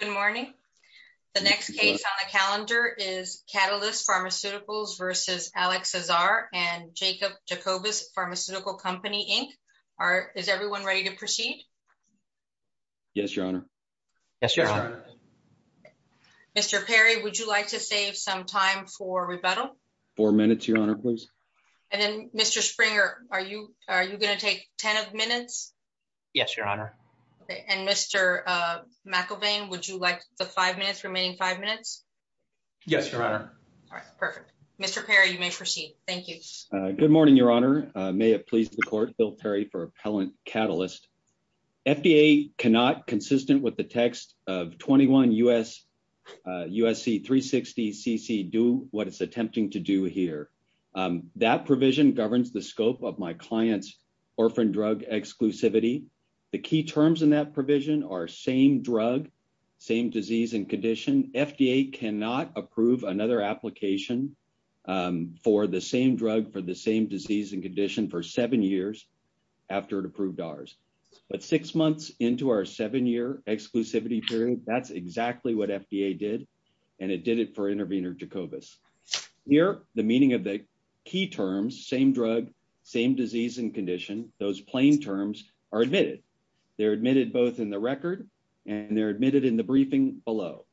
Good morning. The next case on the calendar is Catalyst Pharmaceuticals v. Alex Azar and Jacob Jacobus Pharmaceutical Company, Inc. Is everyone ready to proceed? Yes, Your Honor. Yes, Your Honor. Mr. Perry, would you like to save some time for rebuttal? Four minutes, Your Honor, please. And then, Mr. Springer, are you going to take ten minutes? Yes, Your Honor. Okay, and Mr. McIlvain, would you like the five minutes, remaining five minutes? Yes, Your Honor. All right, perfect. Mr. Perry, you may proceed. Thank you. Good morning, Your Honor. May it please the Court, Bill Perry for Appellant Catalyst. FDA cannot, consistent with the text of 21 U.S.C. 360 CC, do what it's attempting to do here. That provision governs the scope of my client's orphan drug exclusivity. The key terms in that provision are same drug, same disease and condition. FDA cannot approve another application for the same drug for the same disease and condition for seven years after it approved ours. But six months into our seven-year exclusivity period, that's exactly what FDA did, and it did it for intervener Jacobus. Here, the meaning of the key terms, same drug, same disease and condition, those plain terms, are admitted. They're admitted both in the record, and they're admitted in the briefing below.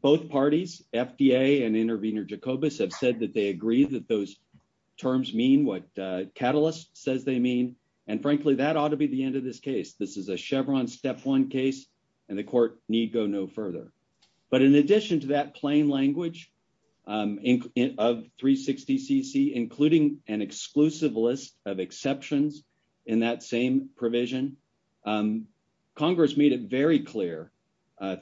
Both parties, FDA and intervener Jacobus, have said that they agree that those terms mean what Catalyst says they mean. And frankly, that ought to be the end of this case. This is a Chevron step one case, and the Court need go no further. But in addition to that plain language of 360 CC, including an exclusive list of exceptions in that same provision, Congress made it very clear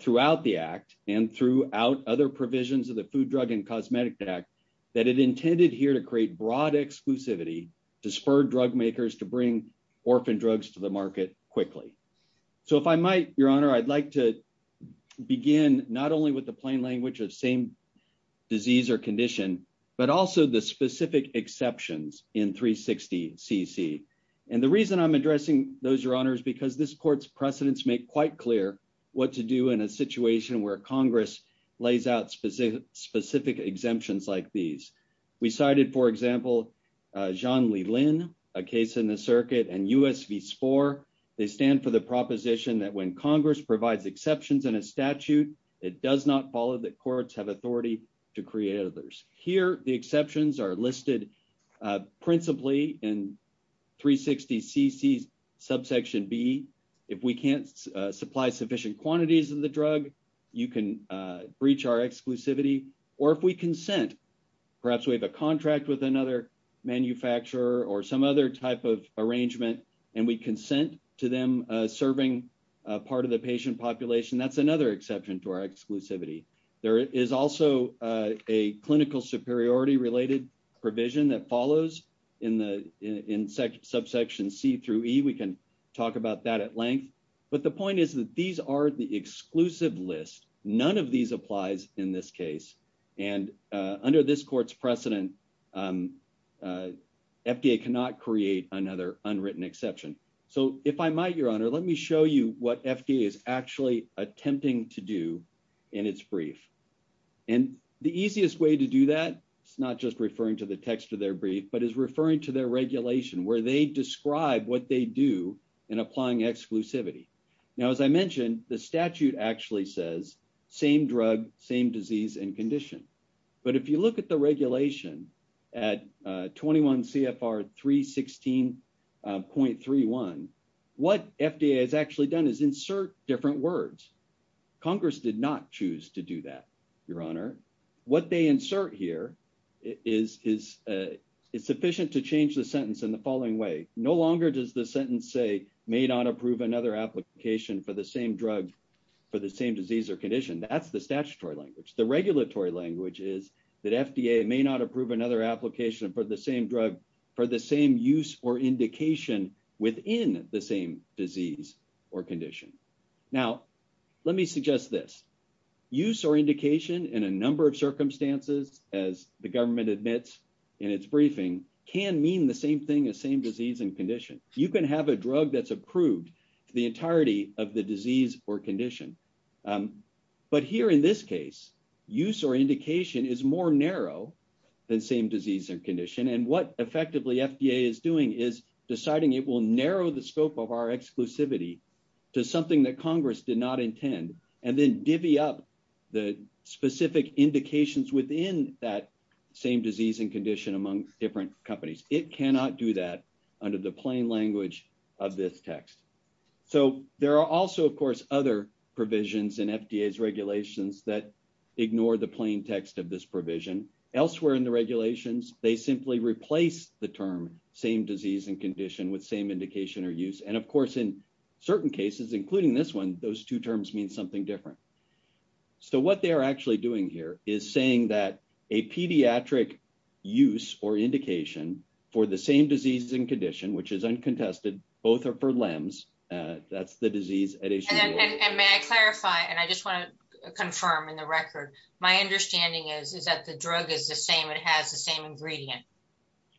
throughout the Act and throughout other provisions of the Food, Drug and Cosmetic Act that it intended here to create broad exclusivity to spur drug makers to bring orphan drugs to the market quickly. So if I might, Your Honor, I'd like to begin not only with the plain language of same disease or condition, but also the specific exceptions in 360 CC. And the reason I'm addressing those, Your Honor, is because this Court's precedents make quite clear what to do in a situation where Congress lays out specific exemptions like these. We cited, for example, John Leland, a case in the circuit, and U.S. v. SPOR. They stand for the proposition that when Congress provides exceptions in a statute, it does not follow that courts have authority to create others. Here, the exceptions are listed principally in 360 CC's subsection B. If we can't supply sufficient quantities of the drug, you can breach our exclusivity. Or if we consent, perhaps we have a contract with another manufacturer or some other type of arrangement, and we consent to them serving part of the patient population, that's another exception to our exclusivity. There is also a clinical superiority-related provision that follows in subsection C through E. We can talk about that at length. But the point is that these are the exclusive list. None of these applies in this case. And under this Court's precedent, FDA cannot create another unwritten exception. So if I might, Your Honor, let me show you what FDA is actually attempting to do in its brief. And the easiest way to do that is not just referring to the text of their brief, but is referring to their regulation where they describe what they do in applying exclusivity. Now, as I mentioned, the statute actually says same drug, same disease and condition. But if you look at the regulation at 21 CFR 316.31, what FDA has actually done is insert different words. Congress did not choose to do that, Your Honor. What they insert here is sufficient to change the sentence in the following way. No longer does the sentence say may not approve another application for the same drug for the same disease or condition. That's the statutory language. The regulatory language is that FDA may not approve another application for the same drug for the same use or indication within the same disease or condition. Now, let me suggest this. Use or indication in a number of circumstances, as the government admits in its briefing, can mean the same thing as same disease and condition. You can have a drug that's approved for the entirety of the disease or condition. But here in this case, use or indication is more narrow than same disease or condition. And what effectively FDA is doing is deciding it will narrow the scope of our exclusivity to something that Congress did not intend and then divvy up the specific indications within that same disease and condition among different companies. It cannot do that under the plain language of this text. So there are also, of course, other provisions in FDA's regulations that ignore the plain text of this provision. Elsewhere in the regulations, they simply replace the term same disease and condition with same indication or use. And, of course, in certain cases, including this one, those two terms mean something different. So what they are actually doing here is saying that a pediatric use or indication for the same disease and condition, which is uncontested, both are for limbs, that's the disease at issue. And may I clarify, and I just want to confirm in the record, my understanding is that the drug is the same. It has the same ingredient.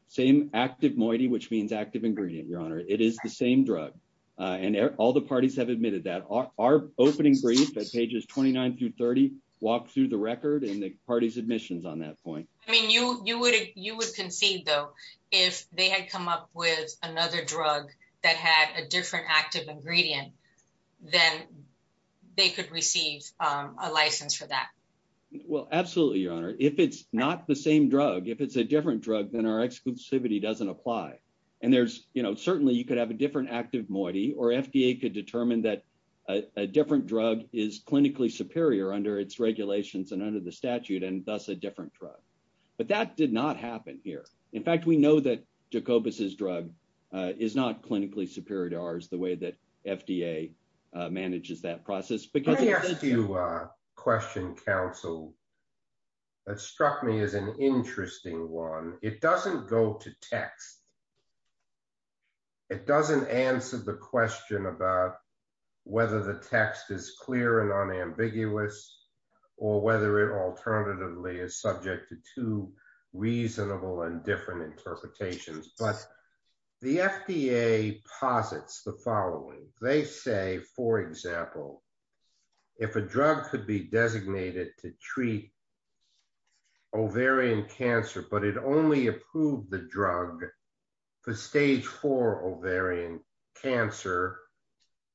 Same active moiety, which means active ingredient, Your Honor. It is the same drug. And all the parties have admitted that. Our opening brief at pages 29 through 30 walked through the record and the party's admissions on that point. I mean, you would concede, though, if they had come up with another drug that had a different active ingredient, then they could receive a license for that. Well, absolutely, Your Honor. If it's not the same drug, if it's a different drug, then our exclusivity doesn't apply. And there's you know, certainly you could have a different active moiety or FDA could determine that a different drug is clinically superior under its regulations and under the statute and thus a different drug. But that did not happen here. In fact, we know that Jacobus's drug is not clinically superior to ours the way that FDA manages that process. Let me ask you a question, counsel. That struck me as an interesting one. It doesn't go to text. It doesn't answer the question about whether the text is clear and unambiguous or whether it alternatively is subject to two reasonable and different interpretations. But the FDA posits the following. They say, for example, if a drug could be designated to treat ovarian cancer, but it only approved the drug for stage four ovarian cancer.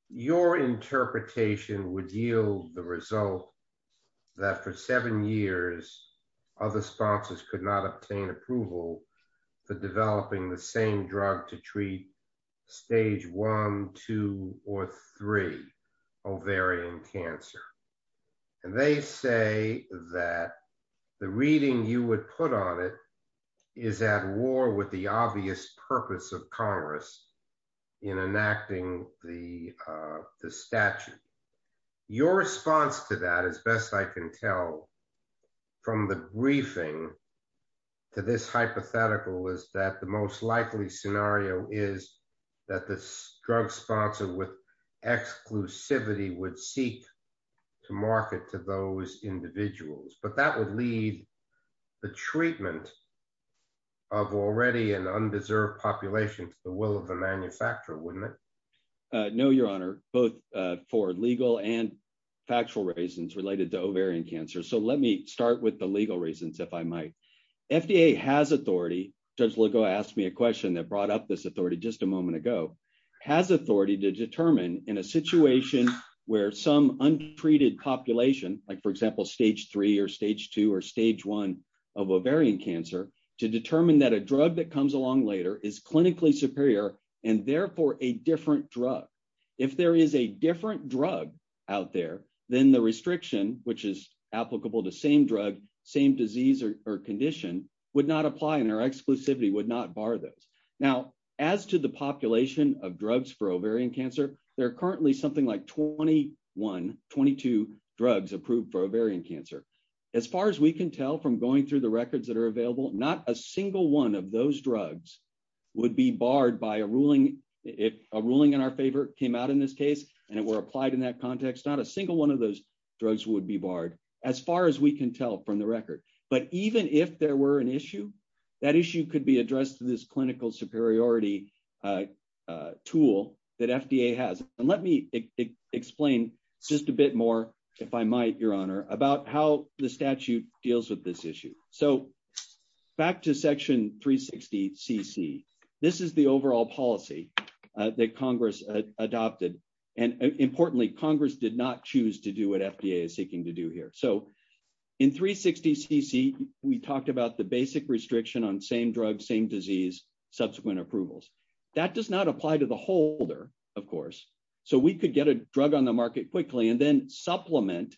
Your interpretation would yield the result that for seven years, other sponsors could not obtain approval for developing the same drug to treat stage one, two, or three ovarian cancer. And they say that the reading you would put on it is at war with the obvious purpose of Congress in enacting the statute. Your response to that, as best I can tell from the briefing to this hypothetical, is that the most likely scenario is that this drug sponsor with exclusivity would seek to market to those individuals. But that would lead the treatment of already an undeserved population to the will of the manufacturer, wouldn't it? No, Your Honor, both for legal and factual reasons related to ovarian cancer. So let me start with the legal reasons, if I might. FDA has authority, Judge Legault asked me a question that brought up this authority just a moment ago, has authority to determine in a situation where some untreated population, like for example stage three or stage two or stage one of ovarian cancer, to determine that a drug that comes along later is clinically superior and therefore a different drug. If there is a different drug out there, then the restriction, which is applicable to same drug, same disease or condition, would not apply and our exclusivity would not bar those. Now, as to the population of drugs for ovarian cancer, there are currently something like 21, 22 drugs approved for ovarian cancer. As far as we can tell from going through the records that are available, not a single one of those drugs would be barred by a ruling. If a ruling in our favor came out in this case, and it were applied in that context, not a single one of those drugs would be barred, as far as we can tell from the record. But even if there were an issue, that issue could be addressed through this clinical superiority tool that FDA has. And let me explain just a bit more, if I might, Your Honor, about how the statute deals with this issue. So, back to Section 360 CC. This is the overall policy that Congress adopted. And importantly, Congress did not choose to do what FDA is seeking to do here. So, in 360 CC, we talked about the basic restriction on same drug, same disease, subsequent approvals. That does not apply to the holder, of course. So, we could get a drug on the market quickly and then supplement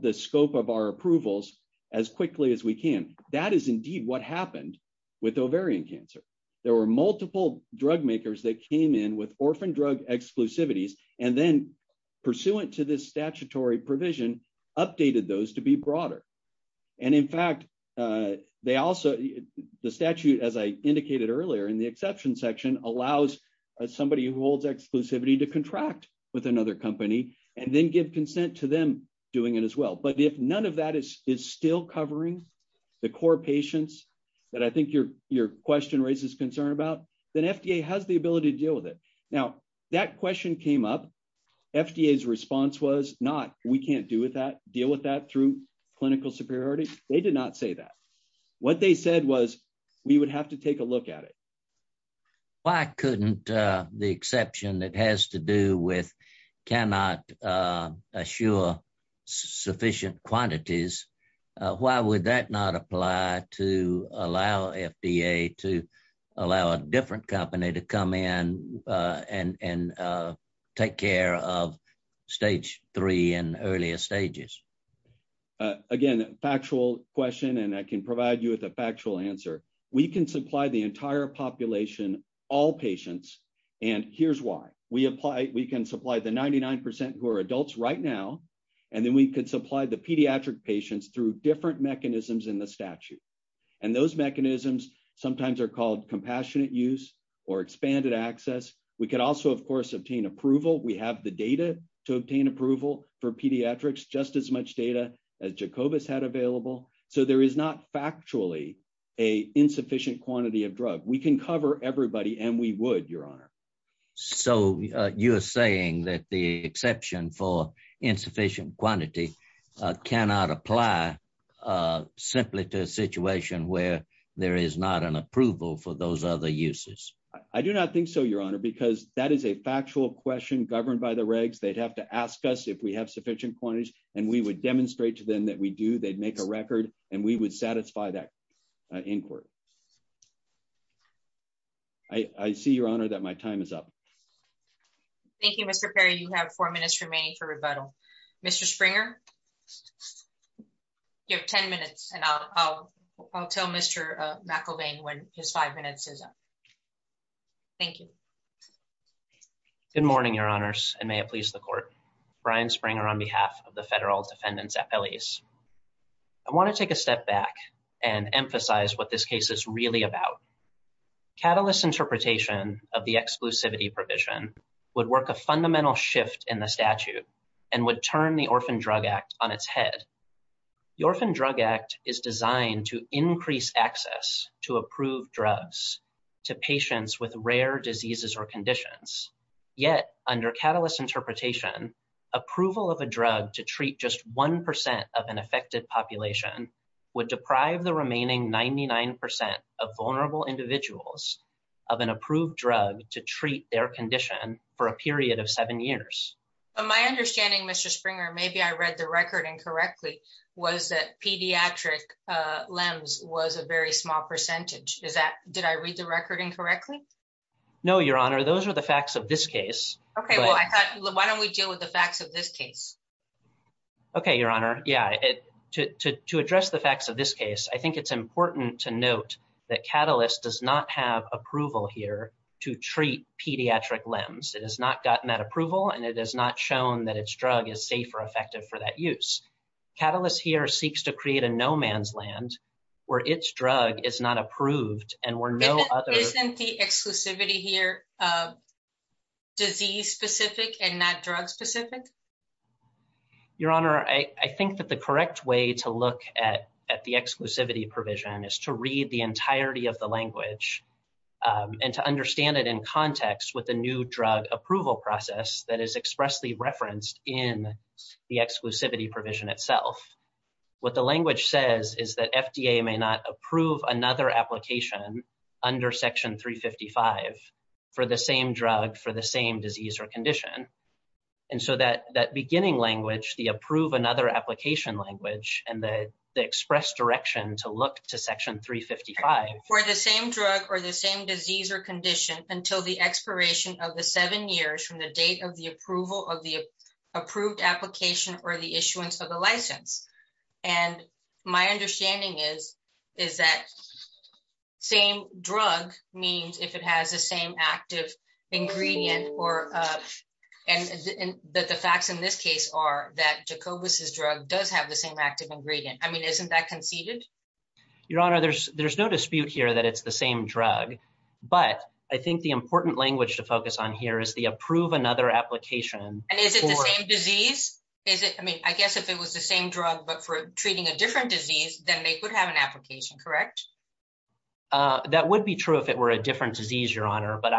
the scope of our approvals as quickly as we can. That is indeed what happened with ovarian cancer. There were multiple drug makers that came in with orphan drug exclusivities and then, pursuant to this statutory provision, updated those to be broader. And in fact, the statute, as I indicated earlier in the exception section, allows somebody who holds exclusivity to contract with another company and then give consent to them doing it as well. But if none of that is still covering the core patients that I think your question raises concern about, then FDA has the ability to deal with it. Now, that question came up. FDA's response was not, we can't deal with that through clinical superiority. They did not say that. What they said was, we would have to take a look at it. Why couldn't the exception that has to do with cannot assure sufficient quantities, why would that not apply to allow FDA to allow a different company to come in and take care of stage three and earlier stages? Again, factual question, and I can provide you with a factual answer. We can supply the entire population, all patients, and here's why. We can supply the 99% who are adults right now, and then we can supply the pediatric patients through different mechanisms in the statute. And those mechanisms sometimes are called compassionate use or expanded access. We can also, of course, obtain approval. We have the data to obtain approval for pediatrics, just as much data as Jacobus had available. So there is not factually an insufficient quantity of drug. We can cover everybody and we would, Your Honor. So you're saying that the exception for insufficient quantity cannot apply simply to a situation where there is not an approval for those other uses? I do not think so, Your Honor, because that is a factual question governed by the regs. They'd have to ask us if we have sufficient quantities, and we would demonstrate to them that we do, they'd make a record, and we would satisfy that inquiry. I see, Your Honor, that my time is up. Thank you, Mr. Perry. You have four minutes remaining for rebuttal. Mr. Springer, you have 10 minutes, and I'll tell Mr. McElvain when his five minutes is up. Thank you. Good morning, Your Honors, and may it please the Court. Brian Springer on behalf of the Federal Defendants' Appellees. I want to take a step back and emphasize what this case is really about. Catalyst interpretation of the exclusivity provision would work a fundamental shift in the statute and would turn the Orphan Drug Act on its head. The Orphan Drug Act is designed to increase access to approved drugs to patients with rare diseases or conditions. Yet, under Catalyst interpretation, approval of a drug to treat just 1% of an affected population would deprive the remaining 99% of vulnerable individuals of an approved drug to treat their condition for a period of seven years. My understanding, Mr. Springer, maybe I read the record incorrectly, was that pediatric limbs was a very small percentage. Did I read the record incorrectly? No, Your Honor, those are the facts of this case. Okay, well, why don't we deal with the facts of this case? Okay, Your Honor. Yeah, to address the facts of this case, I think it's important to note that Catalyst does not have approval here to treat pediatric limbs. It has not gotten that approval and it has not shown that its drug is safe or effective for that use. Catalyst here seeks to create a no man's land where its drug is not approved and where no other... Your Honor, I think that the correct way to look at the exclusivity provision is to read the entirety of the language and to understand it in context with the new drug approval process that is expressly referenced in the exclusivity provision itself. What the language says is that FDA may not approve another application under Section 355 for the same drug for the same disease or condition. And so that beginning language, the approve another application language, and the express direction to look to Section 355... And my understanding is that same drug means if it has the same active ingredient or... And the facts in this case are that Jacobus' drug does have the same active ingredient. I mean, isn't that conceded? Your Honor, there's no dispute here that it's the same drug, but I think the important language to focus on here is the approve another application... And is it the same disease? I mean, I guess if it was the same drug, but for treating a different disease, then they would have an application, correct? That would be true if it were a different disease, Your Honor. But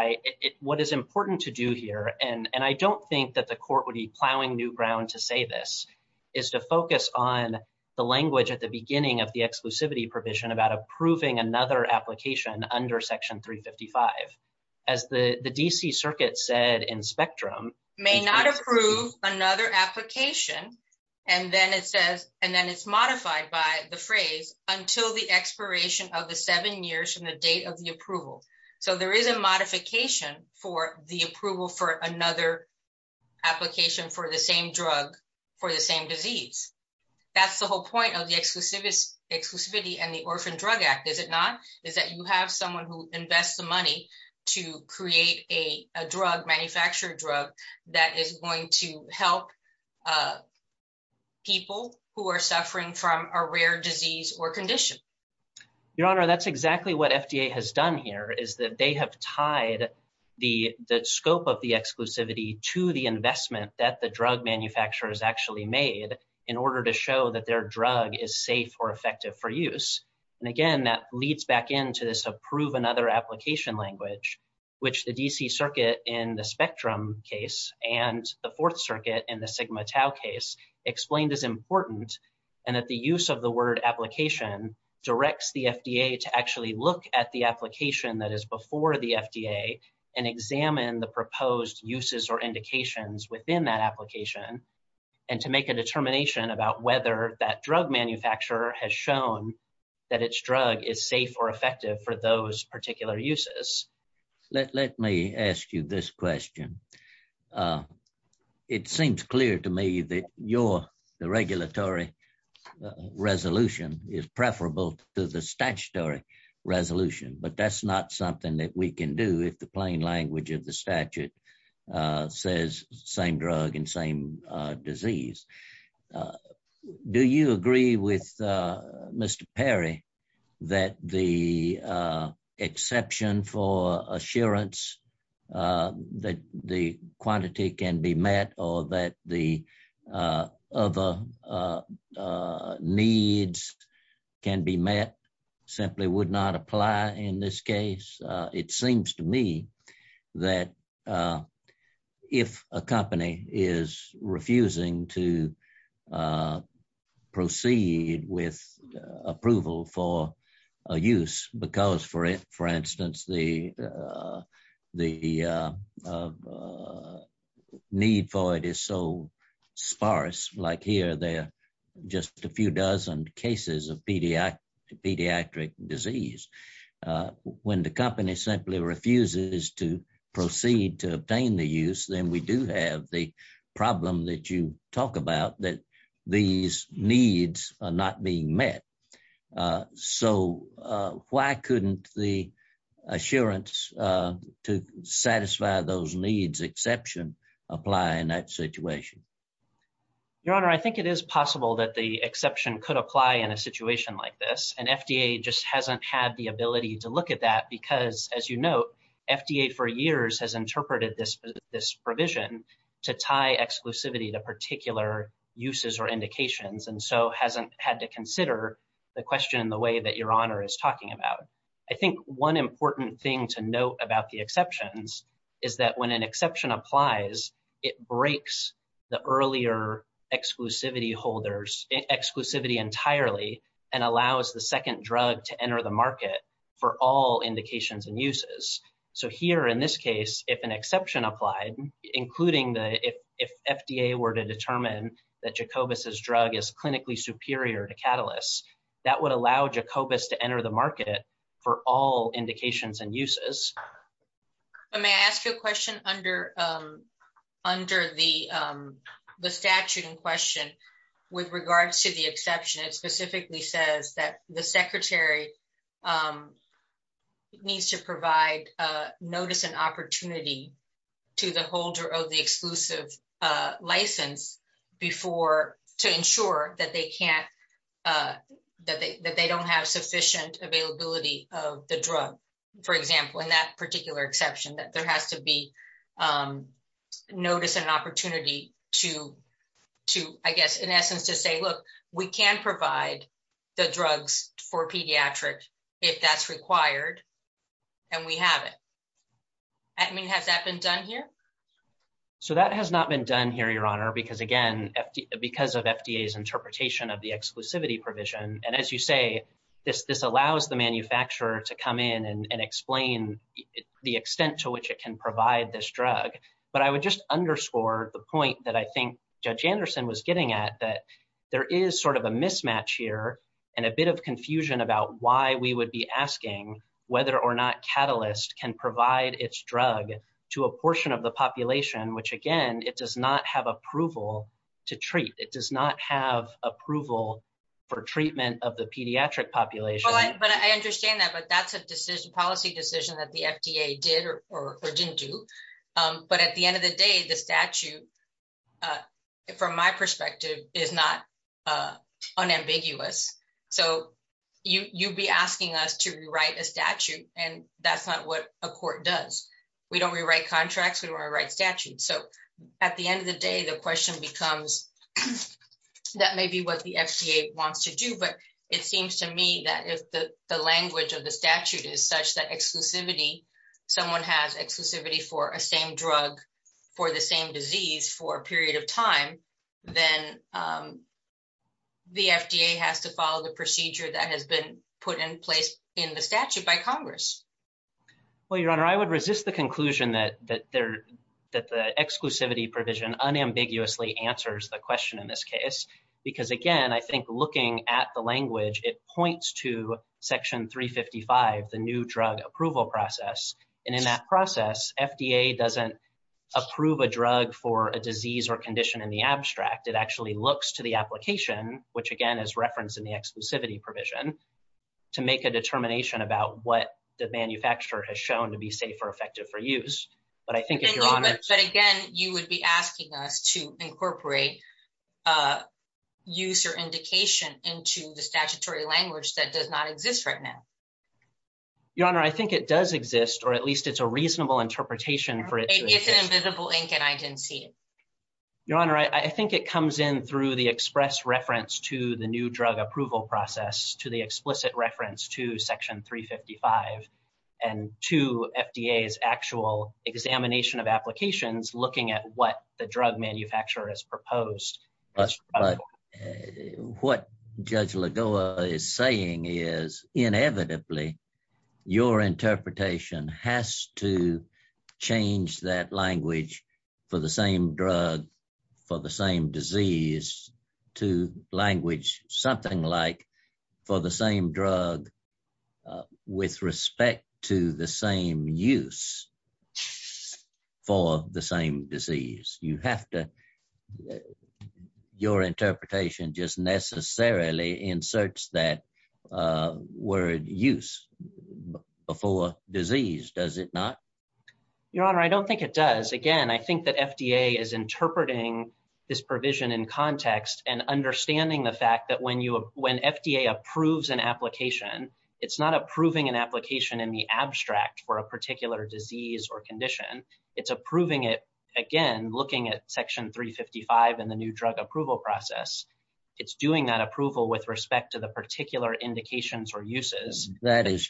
what is important to do here, and I don't think that the court would be plowing new ground to say this, is to focus on the language at the beginning of the exclusivity provision about approving another application under Section 355. As the D.C. Circuit said in Spectrum... May not approve another application, and then it says, and then it's modified by the phrase, until the expiration of the seven years from the date of the approval. So there is a modification for the approval for another application for the same drug for the same disease. That's the whole point of the exclusivity and the Orphan Drug Act, is it not? Is that you have someone who invests the money to create a drug, manufactured drug, that is going to help people who are suffering from a rare disease or condition. Your Honor, that's exactly what FDA has done here, is that they have tied the scope of the exclusivity to the investment that the drug manufacturer has actually made in order to show that their drug is safe or effective for use. And again, that leads back into this approve another application language, which the D.C. Circuit in the Spectrum case and the Fourth Circuit in the Sigma Tau case explained is important, and that the use of the word application directs the FDA to actually look at the application that is before the FDA and examine the proposed uses or indications within that application, and to make a determination about whether that drug manufacturer has shown that its drug is safe or effective for those particular uses. Let me ask you this question. It seems clear to me that your regulatory resolution is preferable to the statutory resolution, but that's not something that we can do if the plain language of the statute says same drug and same disease. Do you agree with Mr. Perry that the exception for assurance that the quantity can be met or that the other needs can be met simply would not apply in this case? It seems to me that if a company is refusing to proceed with approval for a use because, for instance, the need for it is so sparse, like here, they're just a few dozen cases of pediatric disease. When the company simply refuses to proceed to obtain the use, then we do have the problem that you talk about, that these needs are not being met. So why couldn't the assurance to satisfy those needs exception apply in that situation? Your Honor, I think it is possible that the exception could apply in a situation like this, and FDA just hasn't had the ability to look at that because, as you note, FDA for years has interpreted this provision to tie exclusivity to particular uses or indications, and so hasn't had to consider the question in the way that Your Honor is talking about. I think one important thing to note about the exceptions is that when an exception applies, it breaks the earlier exclusivity holders, exclusivity entirely, and allows the second drug to enter the market for all indications and uses. So here, in this case, if an exception applied, including if FDA were to determine that Jacobus's drug is clinically superior to Catalysts, that would allow Jacobus to enter the market for all indications and uses. May I ask you a question? Under the statute in question, with regards to the exception, it specifically says that the Secretary needs to provide notice and opportunity to the holder of the exclusive license to ensure that they don't have sufficient availability of the drug. For example, in that particular exception, that there has to be notice and opportunity to, I guess, in essence, to say, look, we can provide the drugs for pediatrics if that's required, and we have it. I mean, has that been done here? So that has not been done here, Your Honor, because again, because of FDA's interpretation of the exclusivity provision, and as you say, this allows the manufacturer to come in and explain the extent to which it can provide this drug. But I would just underscore the point that I think Judge Anderson was getting at, that there is sort of a mismatch here and a bit of confusion about why we would be asking whether or not Catalysts can provide its drug to a portion of the population, which again, it does not have approval to treat. It does not have approval for treatment of the pediatric population. But I understand that, but that's a policy decision that the FDA did or didn't do. But at the end of the day, the statute, from my perspective, is not unambiguous. So you'd be asking us to rewrite a statute, and that's not what a court does. We don't rewrite contracts, we don't rewrite statutes. So at the end of the day, the question becomes, that may be what the FDA wants to do. But it seems to me that if the language of the statute is such that exclusivity, someone has exclusivity for a same drug for the same disease for a period of time, then the FDA has to follow the procedure that has been put in place in the statute by Congress. Well, Your Honor, I would resist the conclusion that the exclusivity provision unambiguously answers the question in this case, because again, I think looking at the language, it points to Section 355, the new drug approval process. And in that process, FDA doesn't approve a drug for a disease or condition in the abstract. It actually looks to the application, which again is referenced in the exclusivity provision, to make a determination about what the manufacturer has shown to be safe or effective for use. But I think if Your Honor... But again, you would be asking us to incorporate use or indication into the statutory language that does not exist right now. Your Honor, I think it does exist, or at least it's a reasonable interpretation for it to exist. It's in a visible ink and I didn't see it. Your Honor, I think it comes in through the express reference to the new drug approval process, to the explicit reference to Section 355, and to FDA's actual examination of applications looking at what the drug manufacturer has proposed. But what Judge Lagoa is saying is, inevitably, your interpretation has to change that language for the same drug for the same disease to language something like for the same drug with respect to the same use for the same disease. You have to... Your interpretation just necessarily inserts that word use before disease, does it not? Your Honor, I don't think it does. Again, I think that FDA is interpreting this provision in context and understanding the fact that when FDA approves an application, it's not approving an application in the abstract for a particular disease or condition. It's approving it, again, looking at Section 355 and the new drug approval process. It's doing that approval with respect to the particular indications or uses. That is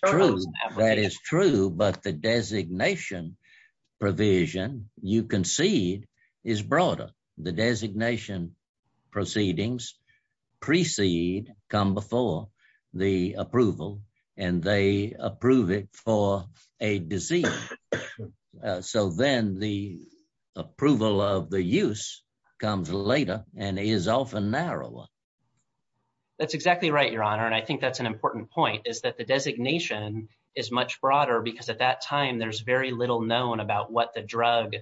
true, but the designation provision you concede is broader. The designation proceedings precede, come before the approval, and they approve it for a disease. So then the approval of the use comes later and is often narrower. That's exactly right, Your Honor. And I think that's an important point is that the designation is much broader because at that time, there's very little known about what the drug,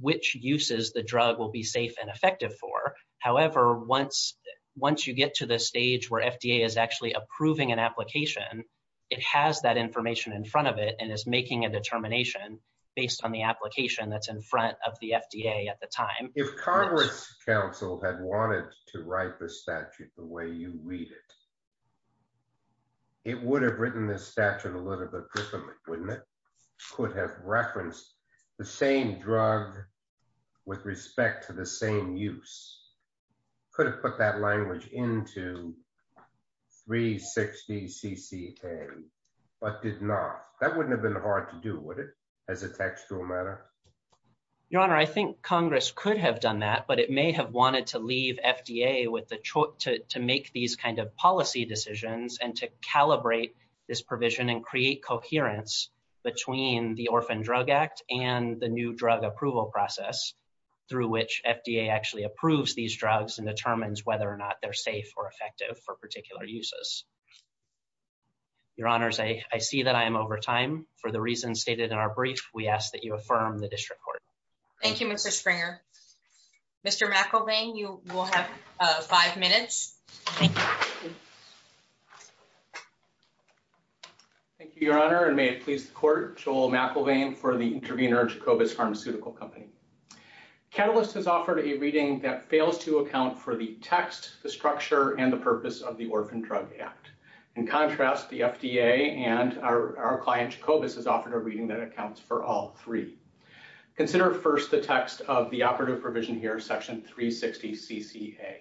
which uses the drug will be safe and effective for. However, once you get to the stage where FDA is actually approving an application, it has that information in front of it and is making a determination based on the application that's in front of the FDA at the time. If Congress Council had wanted to write the statute the way you read it, it would have written this statute a little bit differently, wouldn't it? It could have referenced the same drug with respect to the same use. It could have put that language into 360 CCA, but did not. That wouldn't have been hard to do, would it, as a textual matter? Your Honor, I think Congress could have done that, but it may have wanted to leave FDA to make these kind of policy decisions and to calibrate this provision and create coherence between the Orphan Drug Act and the new drug approval process through which FDA actually approves these drugs and determines whether or not they're safe or effective for particular uses. Your Honor, I see that I am over time. For the reasons stated in our brief, we ask that you affirm the district court. Thank you, Mr. Springer. Mr. McIlvain, you will have five minutes. Thank you, Your Honor, and may it please the court, Joel McIlvain for the intervener of Jacobus Pharmaceutical Company. Catalyst has offered a reading that fails to account for the text, the structure, and the purpose of the Orphan Drug Act. In contrast, the FDA and our client Jacobus has offered a reading that accounts for all three. Consider first the text of the operative provision here, section 360 CCA.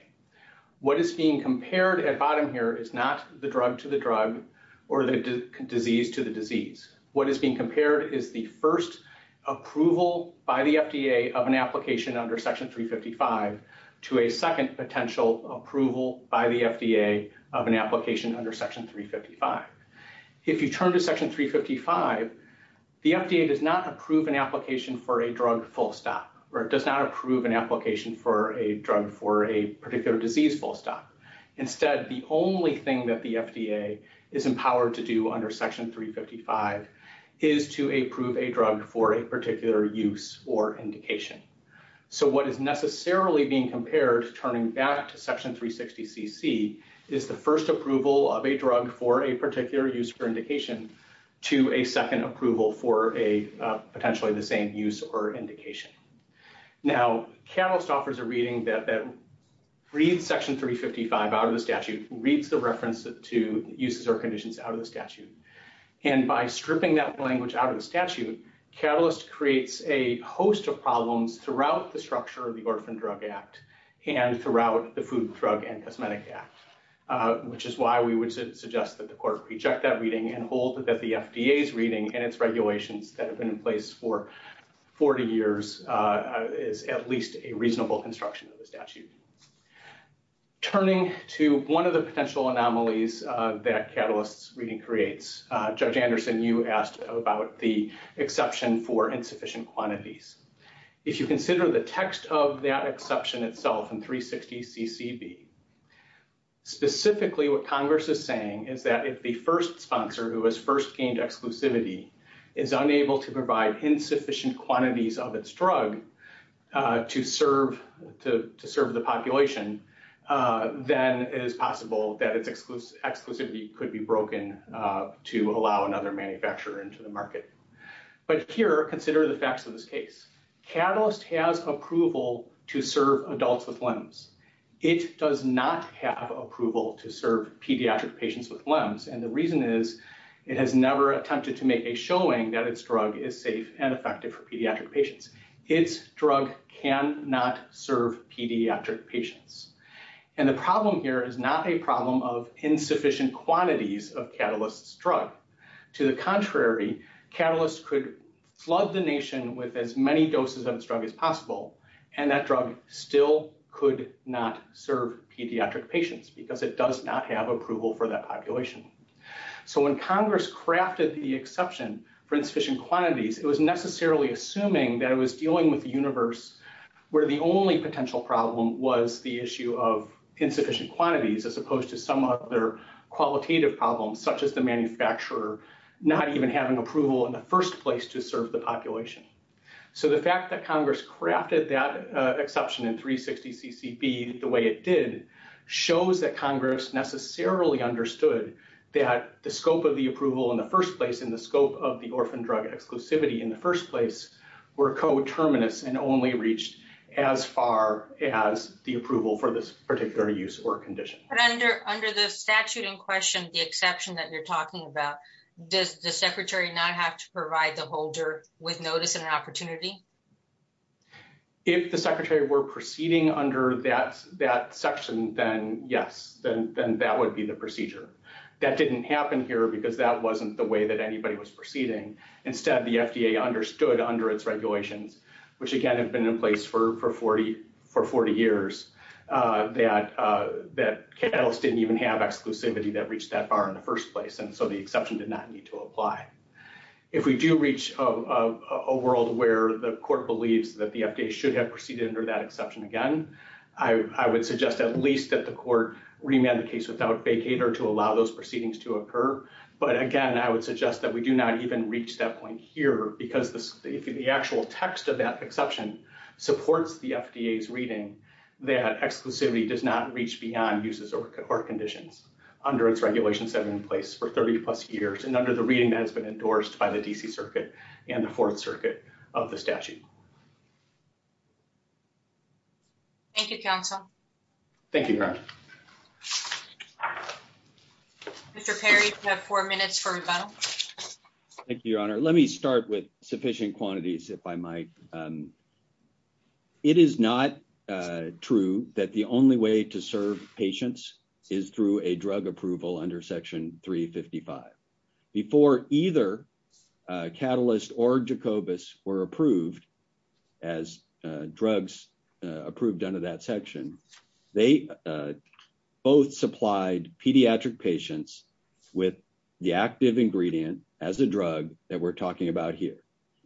What is being compared at bottom here is not the drug to the drug or the disease to the disease. What is being compared is the first approval by the FDA of an application under section 355 to a second potential approval by the FDA of an application under section 355. If you turn to section 355, the FDA does not approve an application for a drug full stop or does not approve an application for a drug for a particular disease full stop. Instead, the only thing that the FDA is empowered to do under section 355 is to approve a drug for a particular use or indication. So what is necessarily being compared, turning back to section 360 CC, is the first approval of a drug for a particular use or indication to a second approval for a potentially the same use or indication. Now, Catalyst offers a reading that reads section 355 out of the statute, reads the reference to uses or conditions out of the statute. And by stripping that language out of the statute, Catalyst creates a host of problems throughout the structure of the Orphan Drug Act and throughout the Food, Drug, and Cosmetic Act, which is why we would suggest that the court reject that reading and hold that the FDA's reading and its regulations that have been in place for 40 years is at least a reasonable construction of the statute. Turning to one of the potential anomalies that Catalyst's reading creates, Judge Anderson, you asked about the exception for insufficient quantities. If you consider the text of that exception itself in 360 CCB, specifically what Congress is saying is that if the first sponsor who has first gained exclusivity is unable to provide insufficient quantities of its drug to serve the population, then it is possible that its exclusivity could be broken to allow another manufacturer into the market. But here, consider the facts of this case. Catalyst has approval to serve adults with limbs. It does not have approval to serve pediatric patients with limbs, and the reason is it has never attempted to make a showing that its drug is safe and effective for pediatric patients. It's drug cannot serve pediatric patients, and the problem here is not a problem of insufficient quantities of Catalyst's drug. To the contrary, Catalyst could flood the nation with as many doses of its drug as possible, and that drug still could not serve pediatric patients because it does not have approval for that population. So when Congress crafted the exception for insufficient quantities, it was necessarily assuming that it was dealing with a universe where the only potential problem was the issue of insufficient quantities as opposed to some other qualitative problems such as the manufacturer not even having approval in the first place to serve the population. So the fact that Congress crafted that exception in 360 CCB the way it did shows that Congress necessarily understood that the scope of the approval in the first place and the scope of the orphan drug exclusivity in the first place were coterminous and only reached as far as the approval for this particular use or condition. But under the statute in question, the exception that you're talking about, does the secretary not have to provide the holder with notice and an opportunity? If the secretary were proceeding under that section, then yes, then that would be the procedure. That didn't happen here because that wasn't the way that anybody was proceeding. Instead, the FDA understood under its regulations, which again have been in place for 40 years, that Catalyst didn't even have exclusivity that reached that far in the first place, and so the exception did not need to apply. If we do reach a world where the court believes that the FDA should have proceeded under that exception again, I would suggest at least that the court remand the case without vacater to allow those proceedings to occur. But again, I would suggest that we do not even reach that point here because the actual text of that exception supports the FDA's reading that exclusivity does not reach beyond uses or conditions under its regulations that are in place for 30 plus years and under the reading that has been endorsed by the DC Circuit and the Fourth Circuit of the statute. Thank you, counsel. Thank you. Mr. Perry, you have four minutes for rebuttal. Thank you, Your Honor. Let me start with sufficient quantities, if I might. It is not true that the only way to serve patients is through a drug approval under Section 355. Before either Catalyst or Jacobus were approved as drugs approved under that section, they both supplied pediatric patients with the active ingredient as a drug that we're talking about here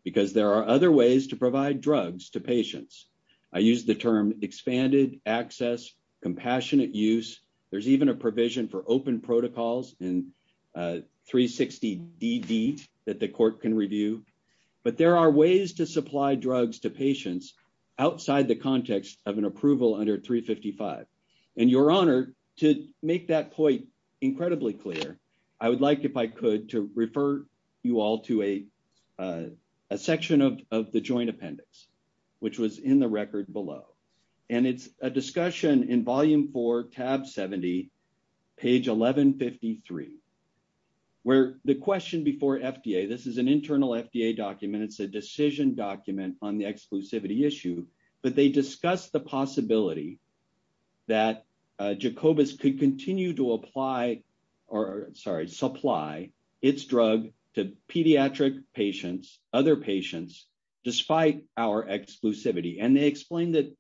because there are other ways to provide drugs to patients. I use the term expanded access, compassionate use. There's even a provision for open protocols and 360 DD that the court can review, but there are ways to supply drugs to patients outside the context of an approval under 355. And Your Honor, to make that point incredibly clear, I would like, if I could, to refer you all to a section of the Joint Appendix, which was in the record below. And it's a discussion in Volume 4, Tab 70, page 1153, where the question before FDA, this is an internal FDA document, it's a decision document on the exclusivity issue, but they discuss the possibility that Jacobus could continue to apply or, sorry, supply its drug to pediatric patients, other patients, despite our exclusivity. And they explain that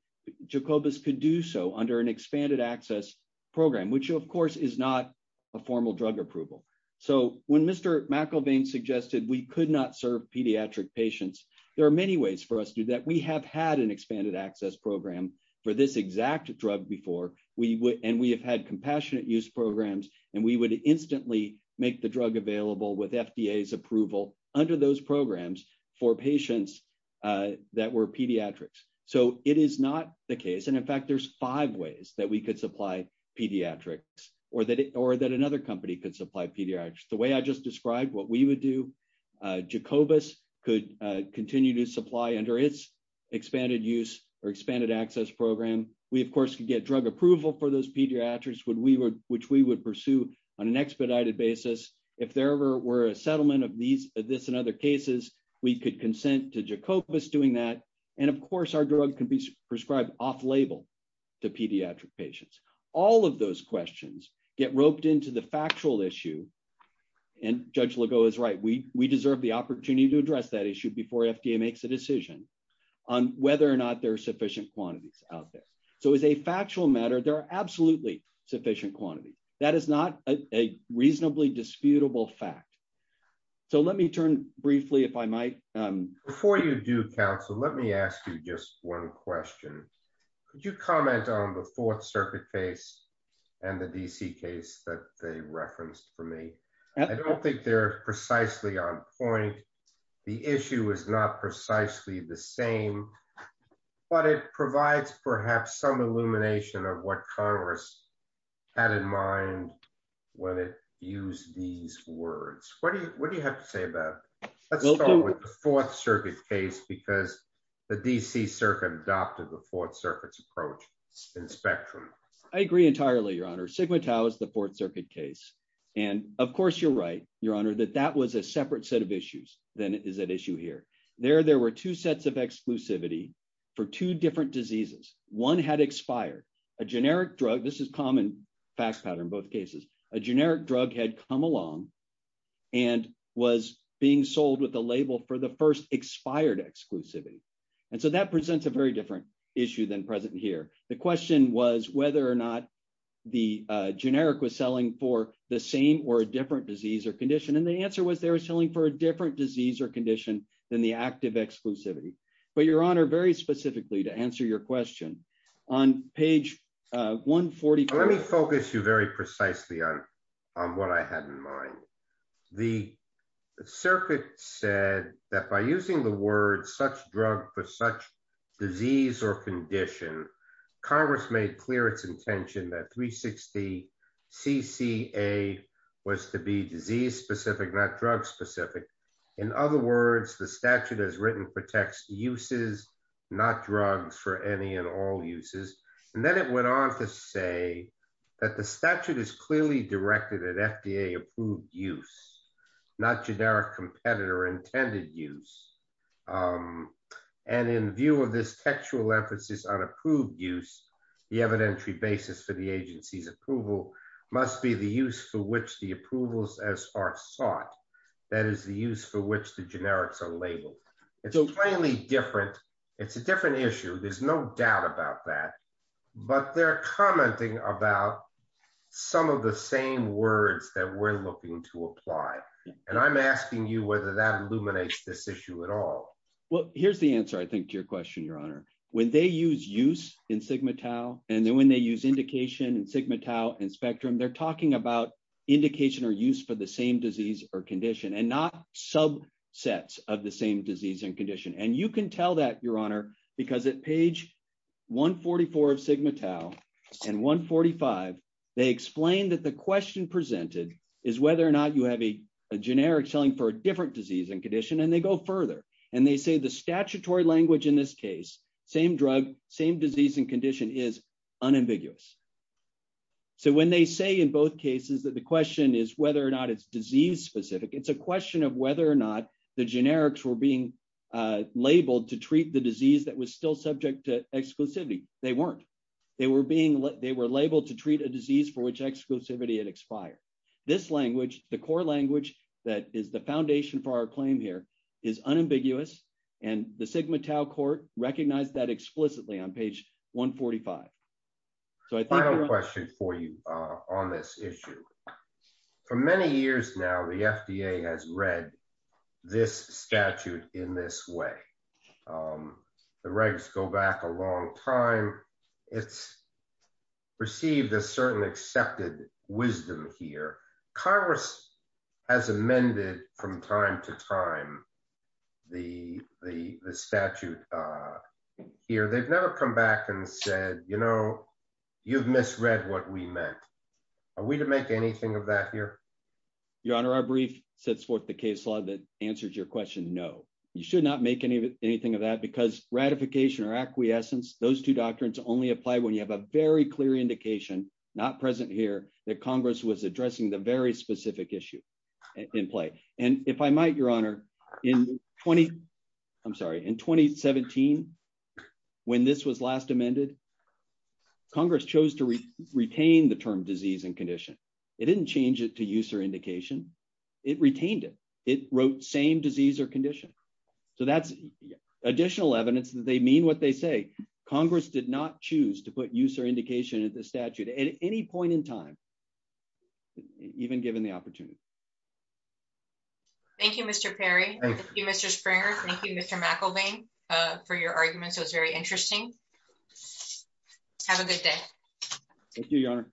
Jacobus could do so under an expanded access program, which, of course, is not a formal drug approval. So when Mr. McElveen suggested we could not serve pediatric patients, there are many ways for us to do that. So it is not the case. And in fact, there's five ways that we could supply pediatrics or that another company could supply pediatrics. The way I just described what we would do, Jacobus could continue to supply under its expanded use or expanded access program. We, of course, could get drug approval for those pediatrics, which we would pursue on an expedited basis. If there ever were a settlement of this and other cases, we could consent to Jacobus doing that. And of course, our drug can be prescribed off-label to pediatric patients. All of those questions get roped into the factual issue. And Judge Legault is right. We deserve the opportunity to address that issue before FDA makes a decision on whether or not there are sufficient quantities out there. So as a factual matter, there are absolutely sufficient quantities. That is not a reasonably disputable fact. So let me turn briefly, if I might. Before you do, counsel, let me ask you just one question. Could you comment on the Fourth Circuit case and the D.C. case that they referenced for me? I don't think they're precisely on point. The issue is not precisely the same, but it provides perhaps some illumination of what Congress had in mind when it used these words. What do you have to say about it? Let's start with the Fourth Circuit case because the D.C. Circuit adopted the Fourth Circuit's approach in spectrum. I agree entirely, Your Honor. Sigma Tau is the Fourth Circuit case. And of course, you're right, Your Honor, that that was a separate set of issues than is at issue here. There, there were two sets of exclusivity for two different diseases. One had expired. A generic drug, this is common fact pattern in both cases, a generic drug had come along and was being sold with the label for the first expired exclusivity. And so that presents a very different issue than present here. The question was whether or not the generic was selling for the same or a different disease or condition. And the answer was they were selling for a different disease or condition than the active exclusivity. But Your Honor, very specifically, to answer your question, on page 140. Let me focus you very precisely on what I had in mind. The circuit said that by using the word such drug for such disease or condition, Congress made clear its intention that 360 CCA was to be disease specific, not drug specific. In other words, the statute as written protects uses, not drugs for any and all uses. And then it went on to say that the statute is clearly directed at FDA approved use, not generic competitor intended use. And in view of this textual emphasis on approved use, the evidentiary basis for the agency's approval must be the use for which the approvals as are sought. That is the use for which the generics are labeled. It's a plainly different. It's a different issue. There's no doubt about that. But they're commenting about some of the same words that we're looking to apply. And I'm asking you whether that illuminates this issue at all. Well, here's the answer, I think, to your question, Your Honor. When they use use in Sigma Tau, and then when they use indication and Sigma Tau and spectrum, they're talking about indication or use for the same disease or condition and not subsets of the same disease and condition. And you can tell that, Your Honor, because at page 144 of Sigma Tau and 145, they explain that the question presented is whether or not you have a generic selling for a different disease and condition and they go further. And they say the statutory language in this case, same drug, same disease and condition is unambiguous. So when they say in both cases that the question is whether or not it's disease specific, it's a question of whether or not the generics were being labeled to treat the disease that was still subject to exclusivity, they weren't. They were being they were labeled to treat a disease for which exclusivity and expire this language, the core language that is the foundation for our claim here is unambiguous, and the Sigma Tau court recognize that explicitly on page 145. So I think I have a question for you on this issue. For many years now the FDA has read this statute in this way. The regs go back a long time. It's received a certain accepted wisdom here. Congress has amended from time to time. The, the statute here they've never come back and said, you know, you've misread what we meant. Are we to make anything of that here. Your Honor our brief sets forth the case law that answers your question no, you should not make any of anything of that because ratification or acquiescence, those two doctrines only apply when you have a very clear indication, not present here that Congress was addressing the very specific issue in play. And if I might, Your Honor, in 20. I'm sorry in 2017. When this was last amended. Congress chose to retain the term disease and condition. It didn't change it to use or indication, it retained it, it wrote same disease or condition. So that's additional evidence that they mean what they say, Congress did not choose to put user indication of the statute at any point in time, even given the opportunity. Thank you, Mr Perry. Mr Springer. Thank you, Mr McElveen for your argument so it's very interesting. Have a good day. Thank you, Your Honor.